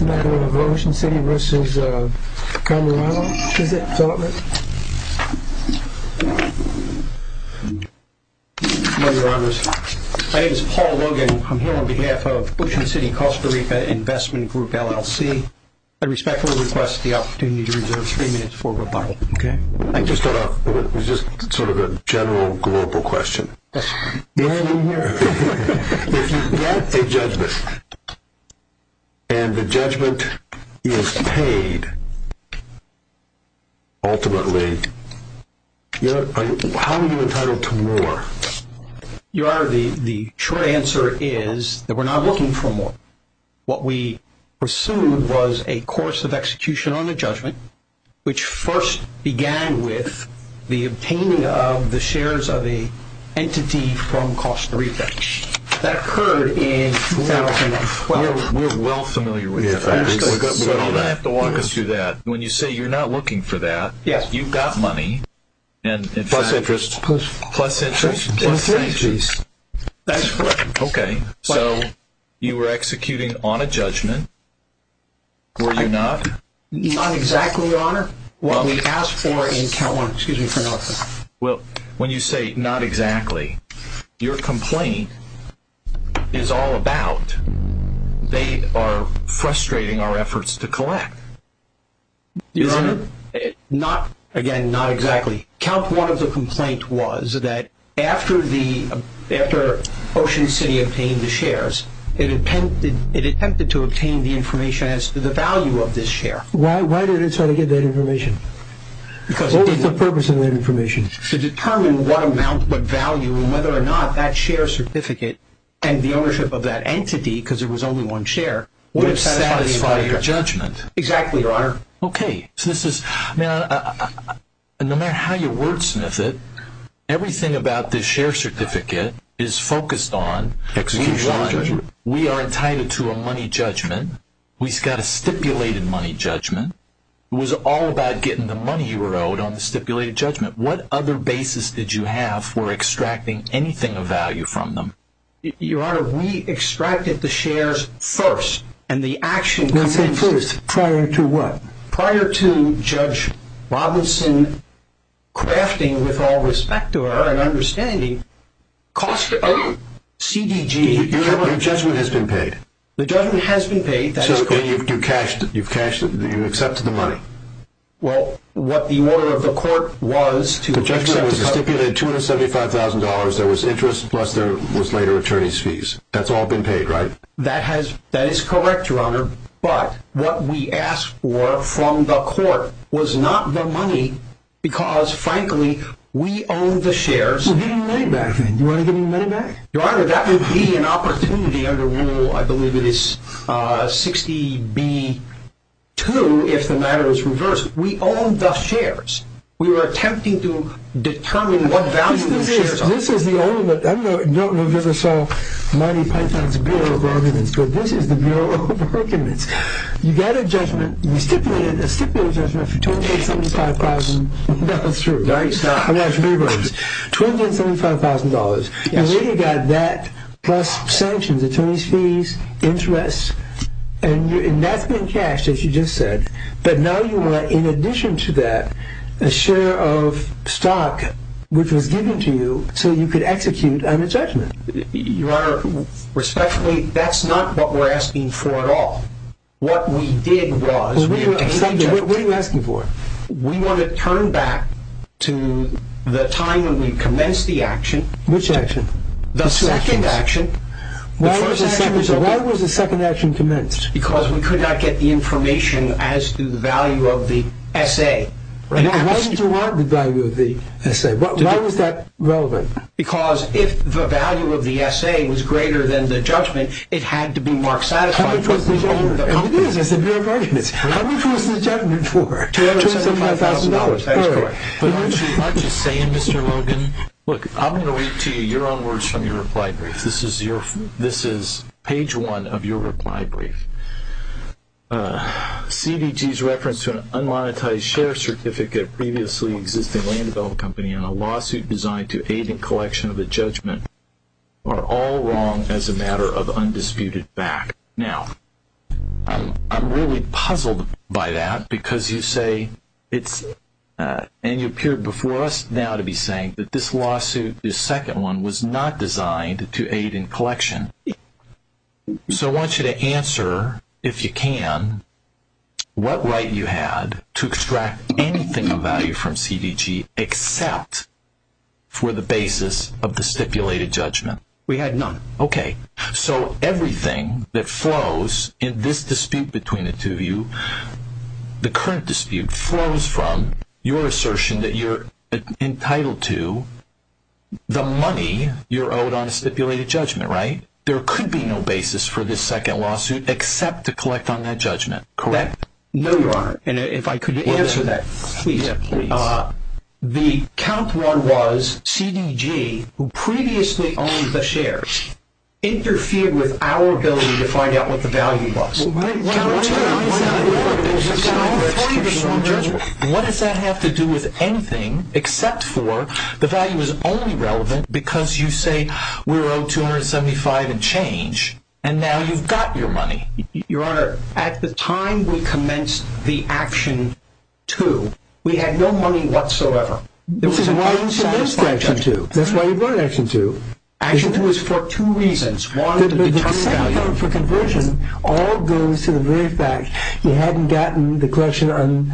My name is Paul Logan. I'm here on behalf of Ocean City Costa Rica Investment Group, LLC. I respectfully request the opportunity to reserve three minutes for rebuttal. I just thought it was just sort of a general global question. If you get a judgment and the judgment is paid, ultimately, how are you entitled to more? Your Honor, the short answer is that we're not looking for more. What we pursued was a course of execution on the judgment, which first began with the obtaining of the shares of the entity from Costa Rica. That occurred in 2012. We're well familiar with that. You don't have to walk us through that. When you say you're not looking for that, you've got money. Plus interest. Plus interest. That's correct. Okay. So you were executing on a judgment, were you not? Not exactly, Your Honor. What we asked for in count one. Excuse me for interrupting. When you say not exactly, your complaint is all about they are frustrating our efforts to collect. Your Honor, again, not exactly. Count one of the complaint was that after Ocean City obtained the shares, it attempted to obtain the information as to the value of this share. Why did it try to get that information? What was the purpose of that information? To determine what amount, what value, and whether or not that share certificate and the ownership of that entity, because there was only one share, would have satisfied your judgment. Exactly, Your Honor. Okay. No matter how you wordsmith it, everything about this share certificate is focused on execution. We are entitled to a money judgment. We've got a stipulated money judgment. It was all about getting the money you were owed on the stipulated judgment. What other basis did you have for extracting anything of value from them? Your Honor, we extracted the shares first. No, say it first. Prior to what? Prior to Judge Robinson crafting, with all respect to her and understanding, cost of CDG... Your judgment has been paid. The judgment has been paid. You've cashed it. You've accepted the money. Well, what the order of the court was to... The judgment was stipulated $275,000. There was interest, plus there was later attorney's fees. That's all been paid, right? That is correct, Your Honor, but what we asked for from the court was not the money, because, frankly, we own the shares. Well, give me the money back then. Do you want to give me the money back? Your Honor, that would be an opportunity under Rule, I believe it is 60B2, if the matter is reversed. We own the shares. We were attempting to determine what value the shares are. I don't know if you ever saw Mighty Python's Bureau of Arguments, but this is the Bureau of Arguments. You got a stipulated judgment for $275,000. That's true. $275,000, and then you got that, plus sanctions, attorney's fees, interest, and that's been cashed, as you just said. But now you want, in addition to that, a share of stock, which was given to you so you could execute on a judgment. Your Honor, respectfully, that's not what we're asking for at all. What we did was... What are you asking for? We want to turn back to the time when we commenced the action. Which action? The second action. Why was the second action commenced? Because we could not get the information as to the value of the S.A. Now, why did you want the value of the S.A.? Why was that relevant? Because if the value of the S.A. was greater than the judgment, it had to be marked satisfied for all of the companies. And it is. It's the Bureau of Arguments. How much was the judgment for? $275,000. But aren't you saying, Mr. Logan, look, I'm going to read to you your own words from your reply brief. This is page one of your reply brief. CDG's reference to an unmonetized share certificate of a previously existing land development company on a lawsuit designed to aid in collection of a judgment are all wrong as a matter of undisputed fact. Now, I'm really puzzled by that because you say it's – and you appear before us now to be saying that this lawsuit, this second one, was not designed to aid in collection. So I want you to answer, if you can, what right you had to extract anything of value from CDG except for the basis of the stipulated judgment. We had none. Okay. So everything that flows in this dispute between the two of you, the current dispute, flows from your assertion that you're entitled to the money you're owed on a stipulated judgment, right? There could be no basis for this second lawsuit except to collect on that judgment, correct? No, Your Honor. And if I could answer that, please, please. The count one was CDG, who previously owned the shares, interfered with our ability to find out what the value was. What does that have to do with anything except for the value is only relevant because you say we're owed $275 and change, and now you've got your money. Your Honor, at the time we commenced the action two, we had no money whatsoever. This is why you brought an action two. That's why you brought an action two. Action two was for two reasons. One, to determine value. The second one for conversion all goes to the very fact you hadn't gotten the collection on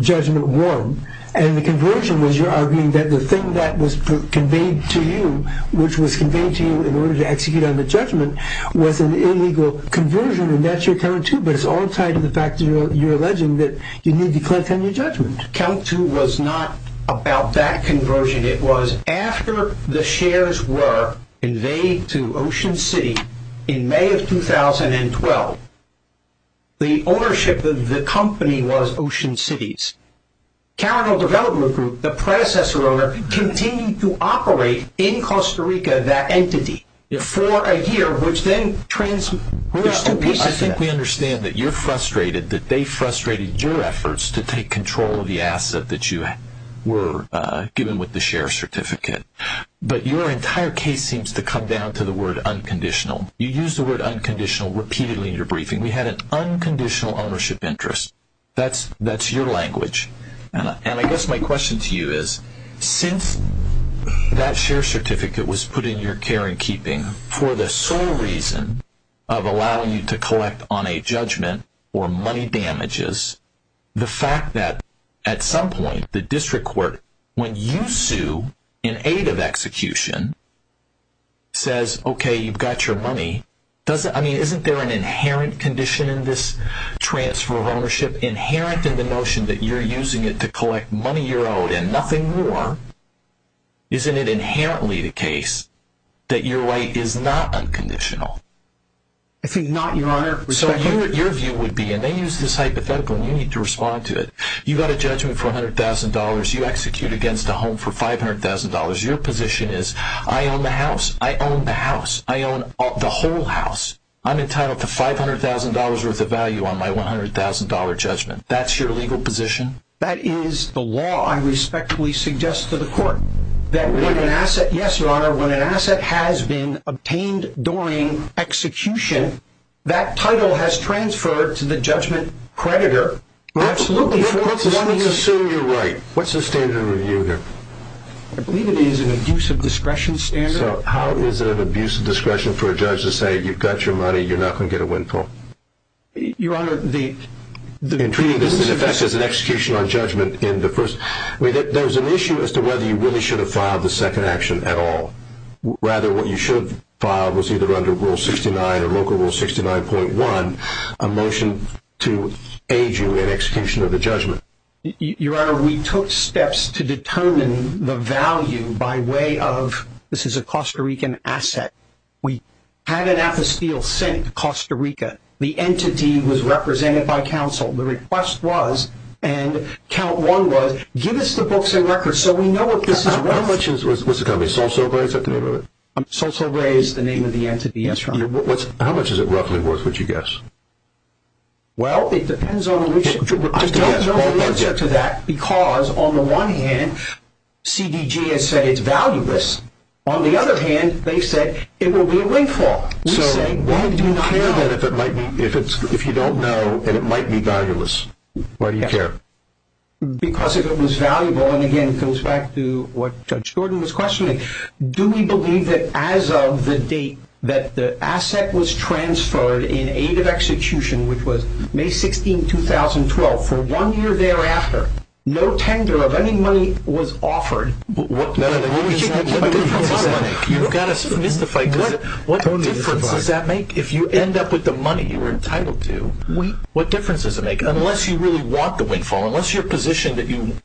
judgment one, and the conversion was your arguing that the thing that was conveyed to you, which was conveyed to you in order to execute on the judgment was an illegal conversion, and that's your count two, but it's all tied to the fact that you're alleging that you need to collect on your judgment. Count two was not about that conversion. It was after the shares were invaded to Ocean City in May of 2012, the ownership of the company was Ocean City's. The predecessor owner continued to operate in Costa Rica that entity for a year, which then transformed. I think we understand that you're frustrated that they frustrated your efforts to take control of the asset that you were given with the share certificate, but your entire case seems to come down to the word unconditional. You used the word unconditional repeatedly in your briefing. We had an unconditional ownership interest. That's your language, and I guess my question to you is, since that share certificate was put in your care and keeping for the sole reason of allowing you to collect on a judgment or money damages, the fact that at some point the district court, when you sue in aid of execution, says, okay, you've got your money. Isn't there an inherent condition in this transfer of ownership, inherent in the notion that you're using it to collect money you're owed and nothing more? Isn't it inherently the case that your right is not unconditional? It's not, Your Honor. So your view would be, and they use this hypothetical, and you need to respond to it. You've got a judgment for $100,000. You execute against a home for $500,000. Your position is, I own the house. I own the house. I own the whole house. I'm entitled to $500,000 worth of value on my $100,000 judgment. That's your legal position? That is the law. I respectfully suggest to the court that when an asset, yes, Your Honor, when an asset has been obtained during execution, that title has transferred to the judgment creditor. Absolutely. Let's assume you're right. What's the standard of review here? I believe it is an abuse of discretion standard. So how is it an abuse of discretion for a judge to say, you've got your money, you're not going to get a windfall? Your Honor, the— In treating this in effect as an execution on judgment in the first— I mean, there was an issue as to whether you really should have filed the second action at all. Rather, what you should have filed was either under Rule 69 or Local Rule 69.1, a motion to aid you in execution of the judgment. Your Honor, we took steps to determine the value by way of—this is a Costa Rican asset. We had an apostle sent to Costa Rica. The entity was represented by counsel. The request was, and count one was, give us the books and records so we know what this is worth. How much is—what's it called? Sol Sol Grey? Is that the name of it? Sol Sol Grey is the name of the entity, yes, Your Honor. How much is it roughly worth, would you guess? Well, it depends on which— I don't know the answer to that because, on the one hand, CDG has said it's valueless. On the other hand, they said it will be a windfall. We say why do you not know? So why do you care then if it might be—if you don't know and it might be valueless, why do you care? Because if it was valuable, and again, it goes back to what Judge Gordon was questioning, do we believe that as of the date that the asset was transferred in aid of execution, which was May 16, 2012, for one year thereafter, no tender of any money was offered? What difference does that make? You've got to mystify. What difference does that make? If you end up with the money you were entitled to, what difference does it make? Unless you really want the windfall, unless your position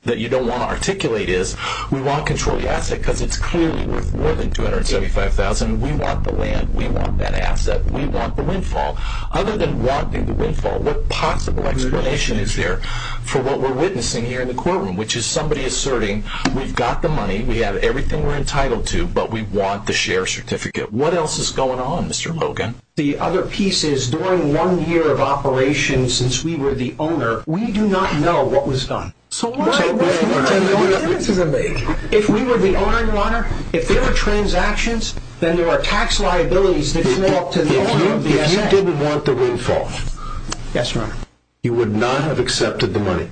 that you don't want to articulate is, we want to control the asset because it's clearly worth more than $275,000. We want the land. We want that asset. We want the windfall. Other than wanting the windfall, what possible explanation is there for what we're witnessing here in the courtroom, which is somebody asserting we've got the money, we have everything we're entitled to, but we want the share certificate. What else is going on, Mr. Logan? The other piece is during one year of operation since we were the owner, we do not know what was done. So what difference does it make? If we were the owner, Your Honor, if there were transactions, then there are tax liabilities that fall to the owner of the asset. If you didn't want the windfall, you would not have accepted the money.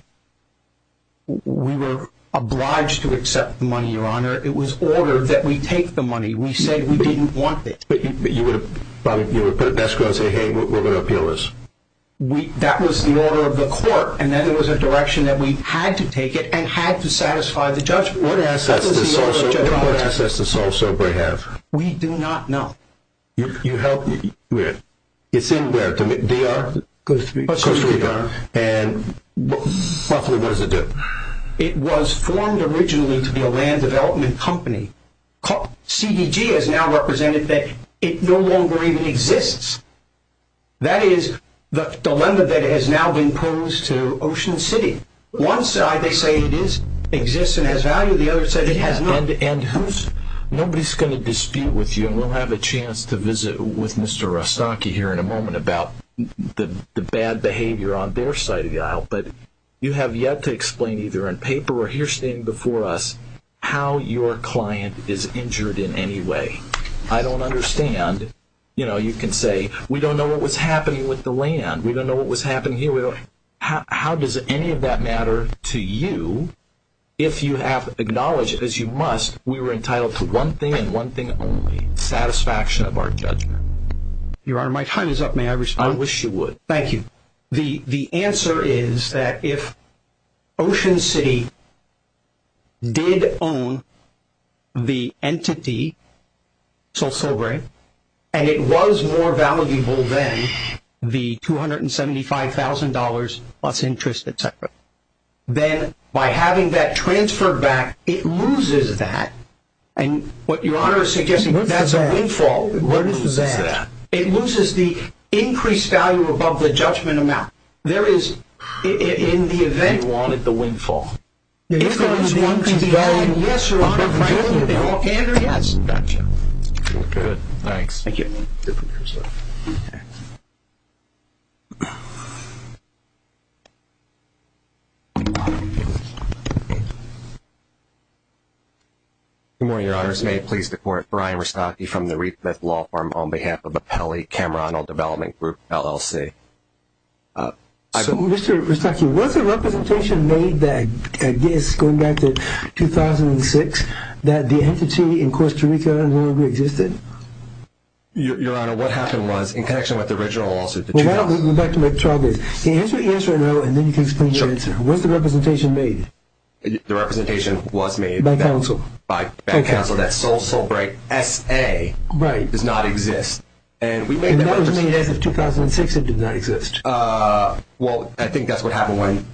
We were obliged to accept the money, Your Honor. It was ordered that we take the money. We said we didn't want it. But you would put it in escrow and say, hey, we're going to appeal this. That was the order of the court, and then it was a direction that we had to take it and had to satisfy the judgment. What assets does Sol Sobre have? We do not know. You help me. Where? It's in where? D.R.? Costa Rica. And roughly what does it do? It was formed originally to be a land development company. CDG has now represented that it no longer even exists. That is the dilemma that has now been posed to Ocean City. One side they say it exists and has value. The other side it has not. Nobody is going to dispute with you, and we'll have a chance to visit with Mr. Rastaki here in a moment about the bad behavior on their side of the aisle. But you have yet to explain either in paper or here standing before us how your client is injured in any way. I don't understand. You can say, we don't know what was happening with the land. We don't know what was happening here. How does any of that matter to you if you have acknowledged, as you must, we were entitled to one thing and one thing only, satisfaction of our judgment? Your Honor, my time is up. May I respond? I wish you would. Thank you. The answer is that if Ocean City did own the entity, Sol Sobre, and it was more valuable than the $275,000 plus interest, et cetera, then by having that transferred back, it loses that. And what Your Honor is suggesting, that's a windfall. What is that? It loses the increased value above the judgment amount. There is, in the event you wanted the windfall. If there is one thing valued, yes, Your Honor, and yes. Gotcha. Good. Thanks. Thank you. Good morning, Your Honor. Your Honor, may it please the Court, Brian Rostocki from the Reedcliffe Law Firm, on behalf of the Pelley Camarano Development Group, LLC. So, Mr. Rostocki, was a representation made that I guess, going back to 2006, that the entity in Costa Rica no longer existed? Your Honor, what happened was, in connection with the original lawsuit, the $2,000. Well, why don't we go back to my trial case. Can you answer yes or no, and then you can explain your answer? Sure. Was the representation made? The representation was made. By counsel. By counsel. That Sol Sobre S.A. does not exist. And we made that representation. And that was made as of 2006. It did not exist. Well, I think that's what happened when,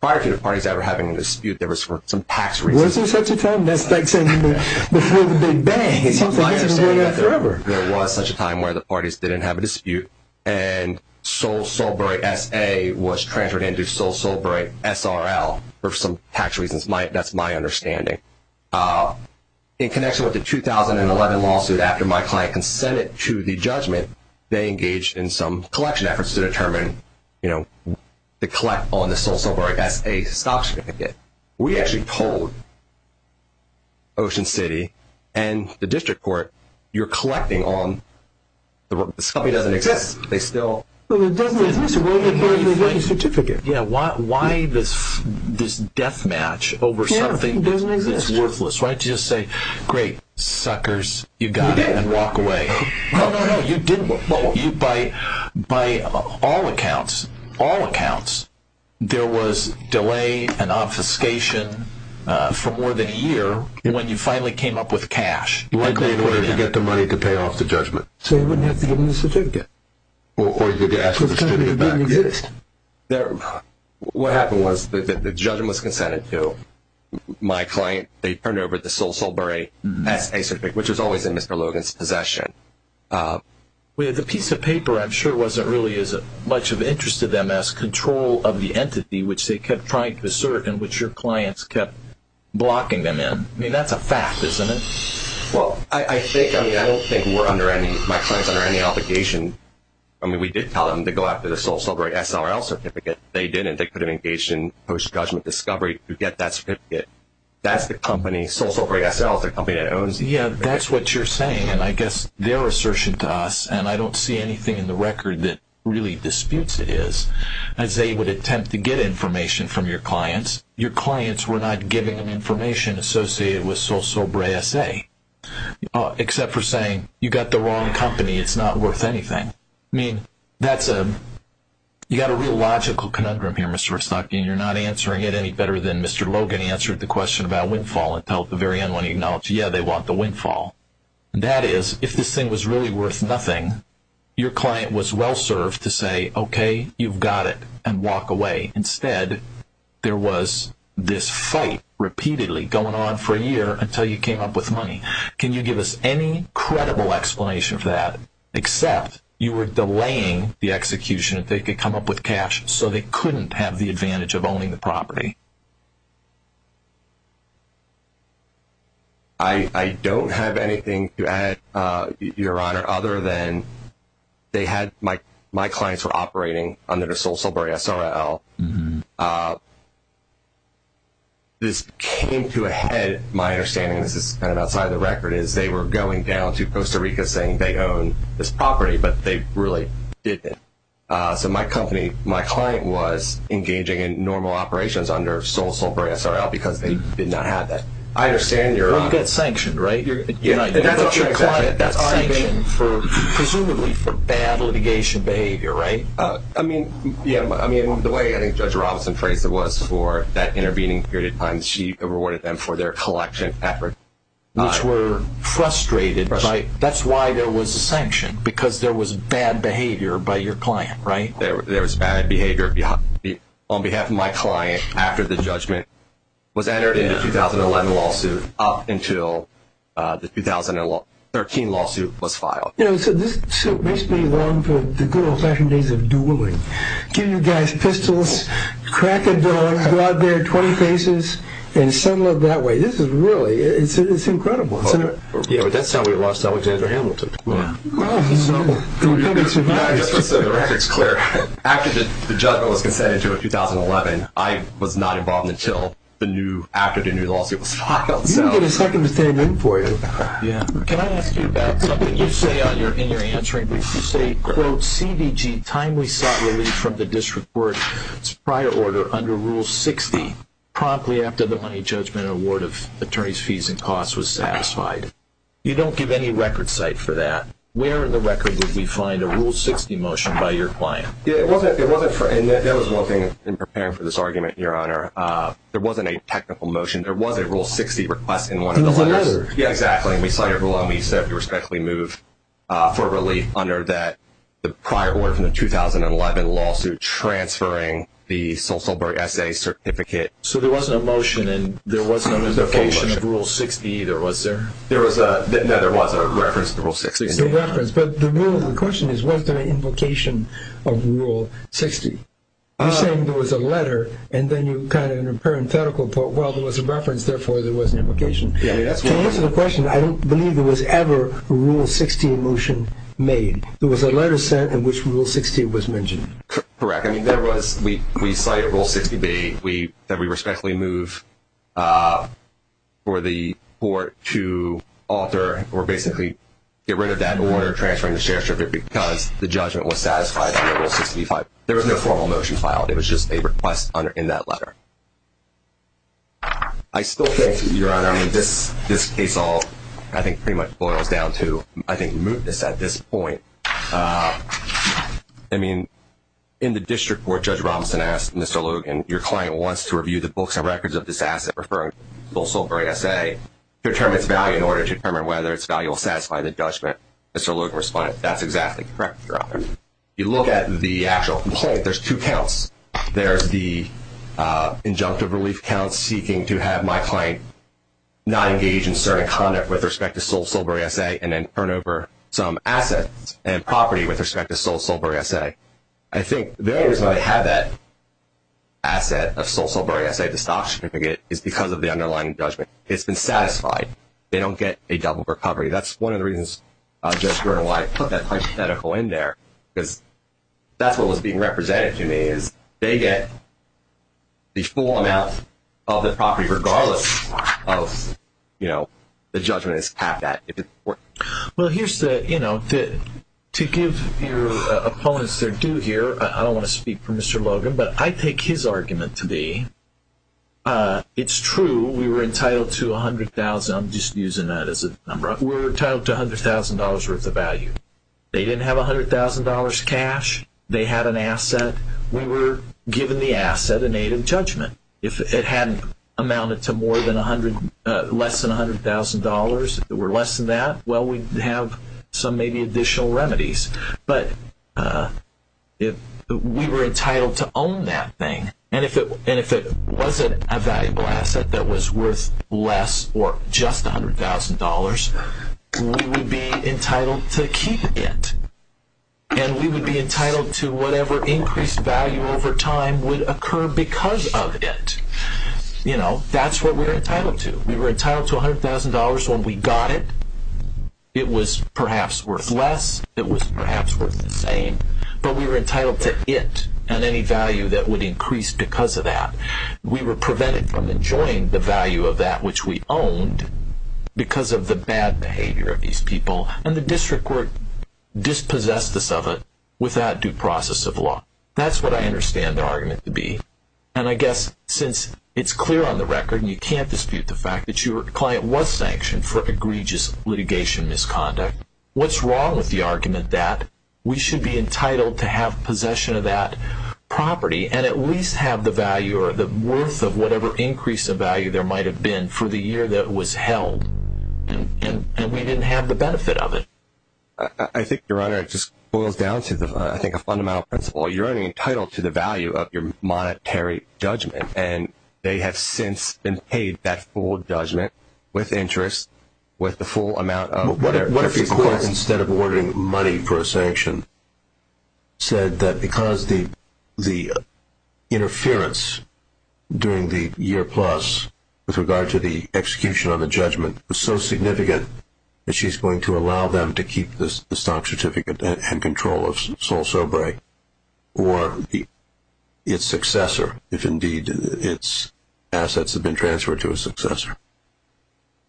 prior to the parties ever having a dispute, there was some tax reasons. Was there such a time? That's like saying before the Big Bang. It seems like that's been going on forever. There was such a time where the parties didn't have a dispute, and Sol Sobre S.A. was transferred into Sol Sobre S.R.L. for some tax reasons. That's my understanding. In connection with the 2011 lawsuit, after my client consented to the judgment, they engaged in some collection efforts to determine, you know, to collect on the Sol Sobre S.A. stock certificate. We actually told Ocean City and the district court, you're collecting on this company doesn't exist. They still have the certificate. Yeah. Why this death match over something that's worthless, right? To just say, great, suckers, you got it, and walk away. No, no, no. You didn't. By all accounts, all accounts, there was delay and obfuscation for more than a year when you finally came up with cash. You got the money to pay off the judgment. So you wouldn't have to give me the certificate. Or you could ask for the certificate back. What happened was the judgment was consented to. My client, they turned over the Sol Sobre S.A. certificate, which was always in Mr. Logan's possession. The piece of paper, I'm sure, wasn't really as much of an interest to them as control of the entity, which they kept trying to assert and which your clients kept blocking them in. I mean, that's a fact, isn't it? Well, I don't think my client's under any obligation. I mean, we did tell them to go after the Sol Sobre S.L. certificate. They didn't. They could have engaged in post-judgment discovery to get that certificate. That's the company. Sol Sobre S.L. is the company that owns it. Yeah, that's what you're saying, and I guess their assertion to us, and I don't see anything in the record that really disputes it is, is they would attempt to get information from your clients. Your clients were not giving them information associated with Sol Sobre S.A., except for saying, you've got the wrong company. It's not worth anything. I mean, you've got a real logical conundrum here, Mr. Verstock, and you're not answering it any better than Mr. Logan answered the question about windfall until at the very end when he acknowledged, yeah, they want the windfall. That is, if this thing was really worth nothing, your client was well-served to say, okay, you've got it, and walk away. Instead, there was this fight repeatedly going on for a year until you came up with money. Can you give us any credible explanation for that, except you were delaying the execution if they could come up with cash so they couldn't have the advantage of owning the property? I don't have anything to add, Your Honor, other than they had my clients were operating under Sol Sobre S.L. This came to a head, my understanding, and this is kind of outside the record, is they were going down to Costa Rica saying they own this property, but they really didn't. So my client was engaging in normal operations under Sol Sobre S.L. because they did not have that. I understand, Your Honor. Well, you got sanctioned, right? That's what your client got sanctioned for, presumably, for bad litigation behavior, right? I mean, the way Judge Robinson phrased it was for that intervening period of time, she rewarded them for their collection efforts. Which were frustrated, right? Frustrated. That's why there was a sanction, because there was bad behavior by your client, right? There was bad behavior on behalf of my client after the judgment was entered in the 2011 lawsuit up until the 2013 lawsuit was filed. You know, so this suit makes me long for the good old-fashioned days of dueling. Give you guys pistols, crack a dog, go out there, 20 cases, and settle it that way. This is really, it's incredible. Yeah, but that's how we lost Alexander Hamilton. Oh, he's normal. He'll come and survive. That's what's so direct, it's clear. After the judgment was consented to in 2011, I was not involved until after the new lawsuit was filed. You didn't get a second to stand in for you. Yeah. Can I ask you about something you say in your answering? You say, quote, CDG timely sought relief from the district court's prior order under Rule 60, promptly after the money judgment award of attorney's fees and costs was satisfied. You don't give any record cite for that. Where in the record would we find a Rule 60 motion by your client? Yeah, it wasn't for, and that was one thing in preparing for this argument, Your Honor. There wasn't a technical motion. There was a Rule 60 request in one of the letters. Yeah, exactly, and we cite it below, and we said, we respectfully move for relief under the prior order from the 2011 lawsuit transferring the Sulzberg SA certificate. So there wasn't a motion, and there wasn't an invocation of Rule 60 either, was there? No, there was a reference to Rule 60. The reference, but the question is, was there an invocation of Rule 60? You're saying there was a letter, and then you kind of in a parenthetical put, well, there was a reference, therefore there was an invocation. To answer the question, I don't believe there was ever a Rule 60 motion made. There was a letter sent in which Rule 60 was mentioned. Correct. I mean, there was. We cite Rule 60B that we respectfully move for the court to alter or basically get rid of that order transferring the share certificate because the judgment was satisfied under Rule 65. There was no formal motion filed. It was just a request in that letter. I still think, Your Honor, I mean, this case all I think pretty much boils down to I think mootness at this point. I mean, in the district court, Judge Robinson asked Mr. Logan, your client wants to review the books and records of this asset referring to the Sulzberg SA to determine its value in order to determine whether its value will satisfy the judgment. Mr. Logan responded, that's exactly correct, Your Honor. You look at the actual complaint, there's two counts. There's the injunctive relief count seeking to have my client not engage in certain conduct with respect to Sulzberg SA and then turn over some assets and property with respect to Sulzberg SA. I think the only reason why they have that asset of Sulzberg SA, the stock certificate, is because of the underlying judgment. It's been satisfied. They don't get a double recovery. That's one of the reasons, Judge Gertle, why I put that hypothetical in there because that's what was being represented to me is they get the full amount of the property regardless of the judgment it's capped at. Well, here's the thing. To give your opponents their due here, I don't want to speak for Mr. Logan, but I take his argument to be it's true we were entitled to $100,000. I'm just using that as a number. We were entitled to $100,000 worth of value. They didn't have $100,000 cash. They had an asset. We were given the asset in aid of judgment. If it hadn't amounted to less than $100,000 or less than that, well, we'd have some maybe additional remedies. But we were entitled to own that thing, and if it wasn't a valuable asset that was worth less or just $100,000, we would be entitled to keep it, and we would be entitled to whatever increased value over time would occur because of it. That's what we were entitled to. We were entitled to $100,000 when we got it. It was perhaps worth less. It was perhaps worth the same, but we were entitled to it and any value that would increase because of that. We were prevented from enjoying the value of that which we owned because of the bad behavior of these people, and the district court dispossessed us of it without due process of law. That's what I understand the argument to be, and I guess since it's clear on the record and you can't dispute the fact that your client was sanctioned for egregious litigation misconduct, what's wrong with the argument that we should be entitled to have possession of that property and at least have the value or the worth of whatever increase of value there might have been for the year that was held, and we didn't have the benefit of it? I think, Your Honor, it just boils down to, I think, a fundamental principle. You're only entitled to the value of your monetary judgment, and they have since been paid that full judgment with interest with the full amount of their fees. What if the court instead of ordering money for a sanction said that because the interference during the year plus with regard to the execution of the judgment was so significant that she's going to allow them to keep the stock certificate and control of Sol Sobre or its successor, if indeed its assets have been transferred to a successor?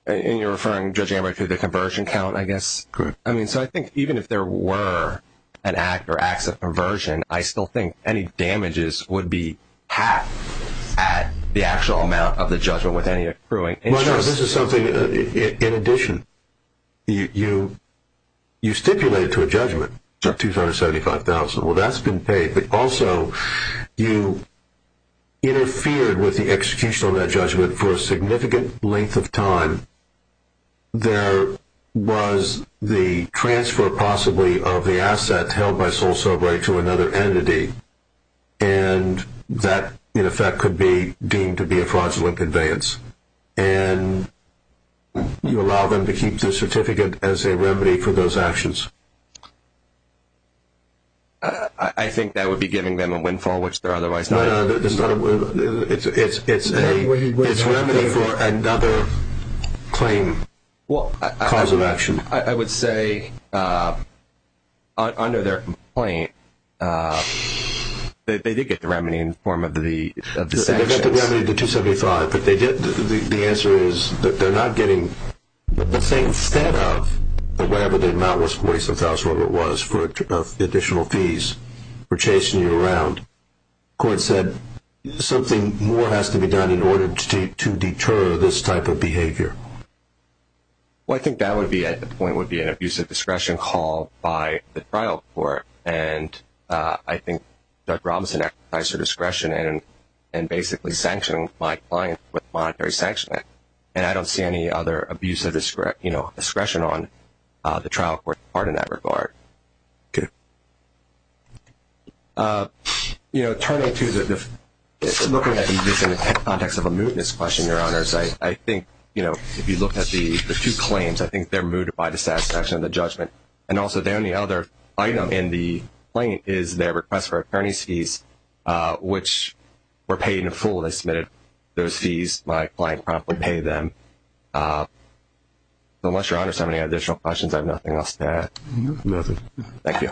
And you're referring, Judge Amber, to the conversion count, I guess? Correct. I mean, so I think even if there were an act or acts of conversion, I still think any damages would be halved at the actual amount of the judgment with any accruing interest. Well, Your Honor, this is something in addition. You stipulated to a judgment $275,000. Well, that's been paid, but also you interfered with the execution of that judgment for a significant length of time. There was the transfer, possibly, of the asset held by Sol Sobre to another entity, and that, in effect, could be deemed to be a fraudulent conveyance. And you allow them to keep the certificate as a remedy for those actions. I think that would be giving them a windfall, which they're otherwise not. No, no, it's not a windfall. It's a remedy for another claim, cause of action. Well, I would say under their complaint, they did get the remedy in the form of the sanctions. They got the remedy of the $275,000, but the answer is they're not getting the same set of whatever the amount was, $275,000, whatever it was, of additional fees for chasing you around. The court said something more has to be done in order to deter this type of behavior. Well, I think that would be, at the point, would be an abuse of discretion called by the trial court, and I think Judge Robinson exercised her discretion in basically sanctioning my client with monetary sanctioning. And I don't see any other abuse of discretion on the trial court part in that regard. Okay. You know, turning to looking at this in the context of a mootness question, Your Honors, I think, you know, if you look at the two claims, I think they're moot by the satisfaction of the judgment. And also the only other item in the claim is their request for attorney's fees, which were paid in full. They submitted those fees. My client promptly paid them. So unless Your Honors have any additional questions, I have nothing else to add. Nothing. Thank you.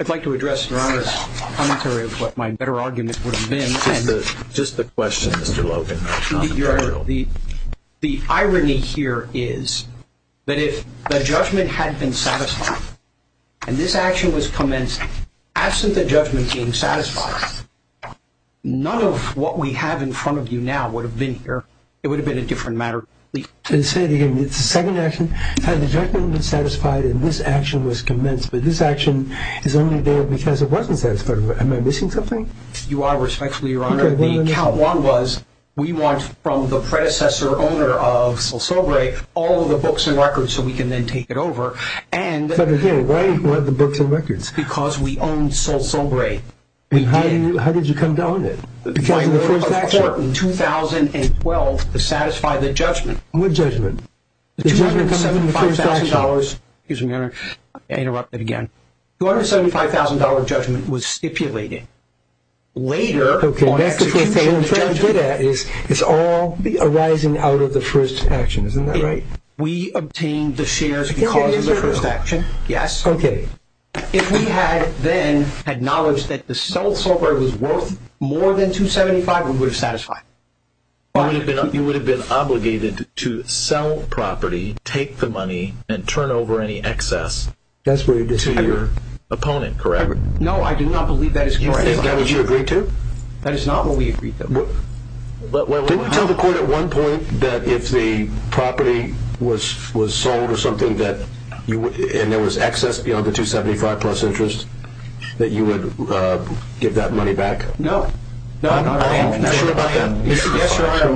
I'd like to address Your Honors' commentary of what my better argument would have been. Just the question, Mr. Logan. The irony here is that if the judgment had been satisfied and this action was commenced, absent the judgment being satisfied, none of what we have in front of you now would have been here. It would have been a different matter. To say it again, it's a second action. Had the judgment been satisfied and this action was commenced, but this action is only there because it wasn't satisfied, You are respectfully, Your Honor. The count one was we want from the predecessor owner of Sol Sobre all of the books and records so we can then take it over. But again, why do you want the books and records? Because we own Sol Sobre. How did you come to own it? Because of the first action. By order of court in 2012 to satisfy the judgment. The judgment coming from the first action. The $275,000, excuse me, Your Honor. I interrupted again. $275,000 judgment was stipulated. Later... Okay, that's because what I'm trying to get at is it's all arising out of the first action. Isn't that right? We obtained the shares because of the first action. Yes. Okay. If we had then acknowledged that the Sol Sobre was worth more than $275,000, we would have satisfied it. You would have been obligated to sell property, take the money, and turn over any excess to your opponent, correct? No, I do not believe that is correct. Is that what you agreed to? That is not what we agreed to. Didn't you tell the court at one point that if the property was sold or something, and there was excess beyond the $275,000 plus interest, that you would give that money back? No. Are you sure about that? Yes, Your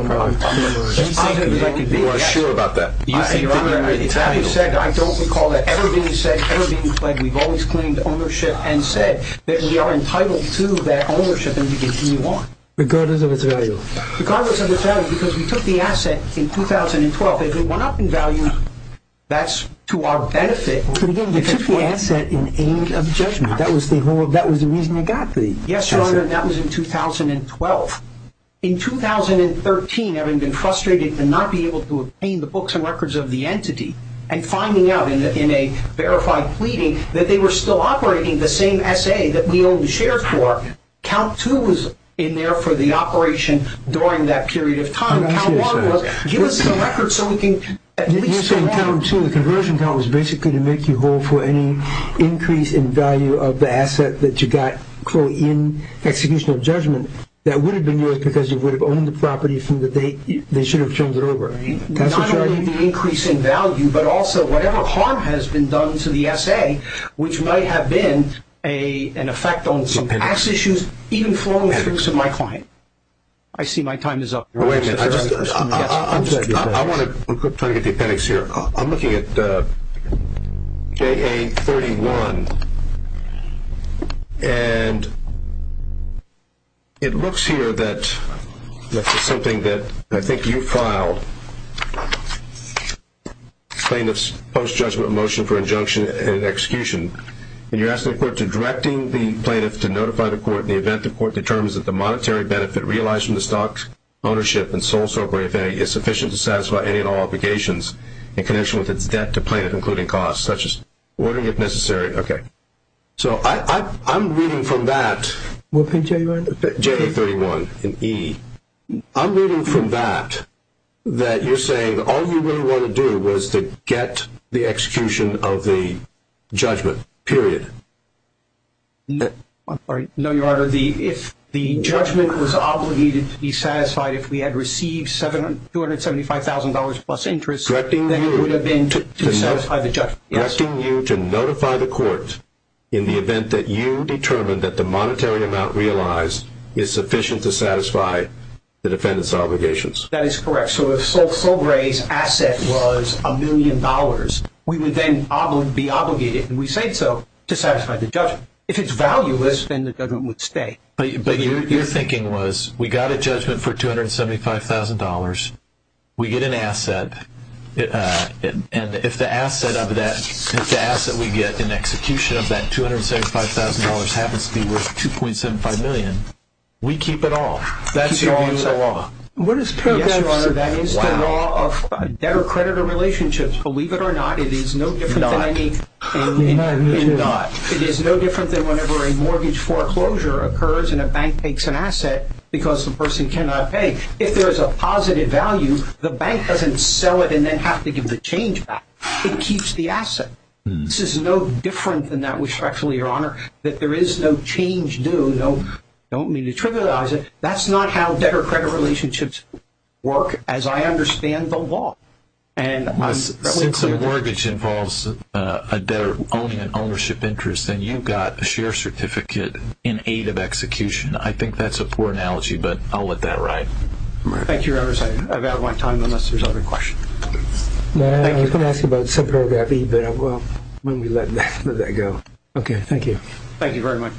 Honor. You are sure about that? It's like you said, I don't recall that ever being said, ever being played. We've always claimed ownership and said that we are entitled to that ownership and we can continue on. Regardless of its value? Regardless of its value because we took the asset in 2012. If it went up in value, that's to our benefit. But again, you took the asset in aid of judgment. That was the reason it got the asset. Yes, Your Honor, that was in 2012. In 2013, having been frustrated to not be able to obtain the books and records of the entity, and finding out in a verified pleading that they were still operating the same SA that we only shared for, count two was in there for the operation during that period of time. Count one was, give us the records so we can at least survive. You're saying count two, the conversion count, was basically to make you hold for any increase in value of the asset that you got in execution of judgment. That would have been yours because you would have owned the property from the date they should have turned it over. Not only the increase in value, but also whatever harm has been done to the SA, which might have been an effect on some tax issues, even flowing through to my client. I see my time is up. Wait a minute. I want to try to get the appendix here. I'm looking at JA31. And it looks here that this is something that I think you filed, plaintiff's post-judgment motion for injunction and execution. And you're asking the court to directing the plaintiff to notify the court in the event the court determines that the monetary benefit realized from the stock ownership is sufficient to satisfy any and all obligations in connection with its debt to plaintiff, including costs such as ordering, if necessary. Okay. So I'm reading from that. What page are you on? JA31 in E. I'm reading from that that you're saying all you really want to do was to get the execution of the judgment, period. No, Your Honor. If the judgment was obligated to be satisfied if we had received $275,000 plus interest, then it would have been to satisfy the judgment. Directing you to notify the court in the event that you determined that the monetary amount realized is sufficient to satisfy the defendant's obligations. That is correct. So if Sol Gray's asset was $1 million, we would then be obligated, and we say so, to satisfy the judgment. If it's valueless, then the judgment would stay. But your thinking was we got a judgment for $275,000. We get an asset, and if the asset we get in execution of that $275,000 happens to be worth $2.75 million, we keep it all. That's your view of the law. Yes, Your Honor. That is the law of debtor-creditor relationships. Believe it or not, it is no different than any in DOT. It is no different than whenever a mortgage foreclosure occurs and a bank takes an asset because the person cannot pay. If there is a positive value, the bank doesn't sell it and then have to give the change back. It keeps the asset. This is no different than that, respectfully, Your Honor, that there is no change due. I don't mean to trivialize it. That's not how debtor-credit relationships work as I understand the law. Since a mortgage involves a debtor owning an ownership interest and you've got a share certificate in aid of execution, I think that's a poor analogy, but I'll let that ride. Thank you, Your Honor. I've outlined time unless there's other questions. You can ask about subparagraph E when we let that go. Okay, thank you. Thank you very much.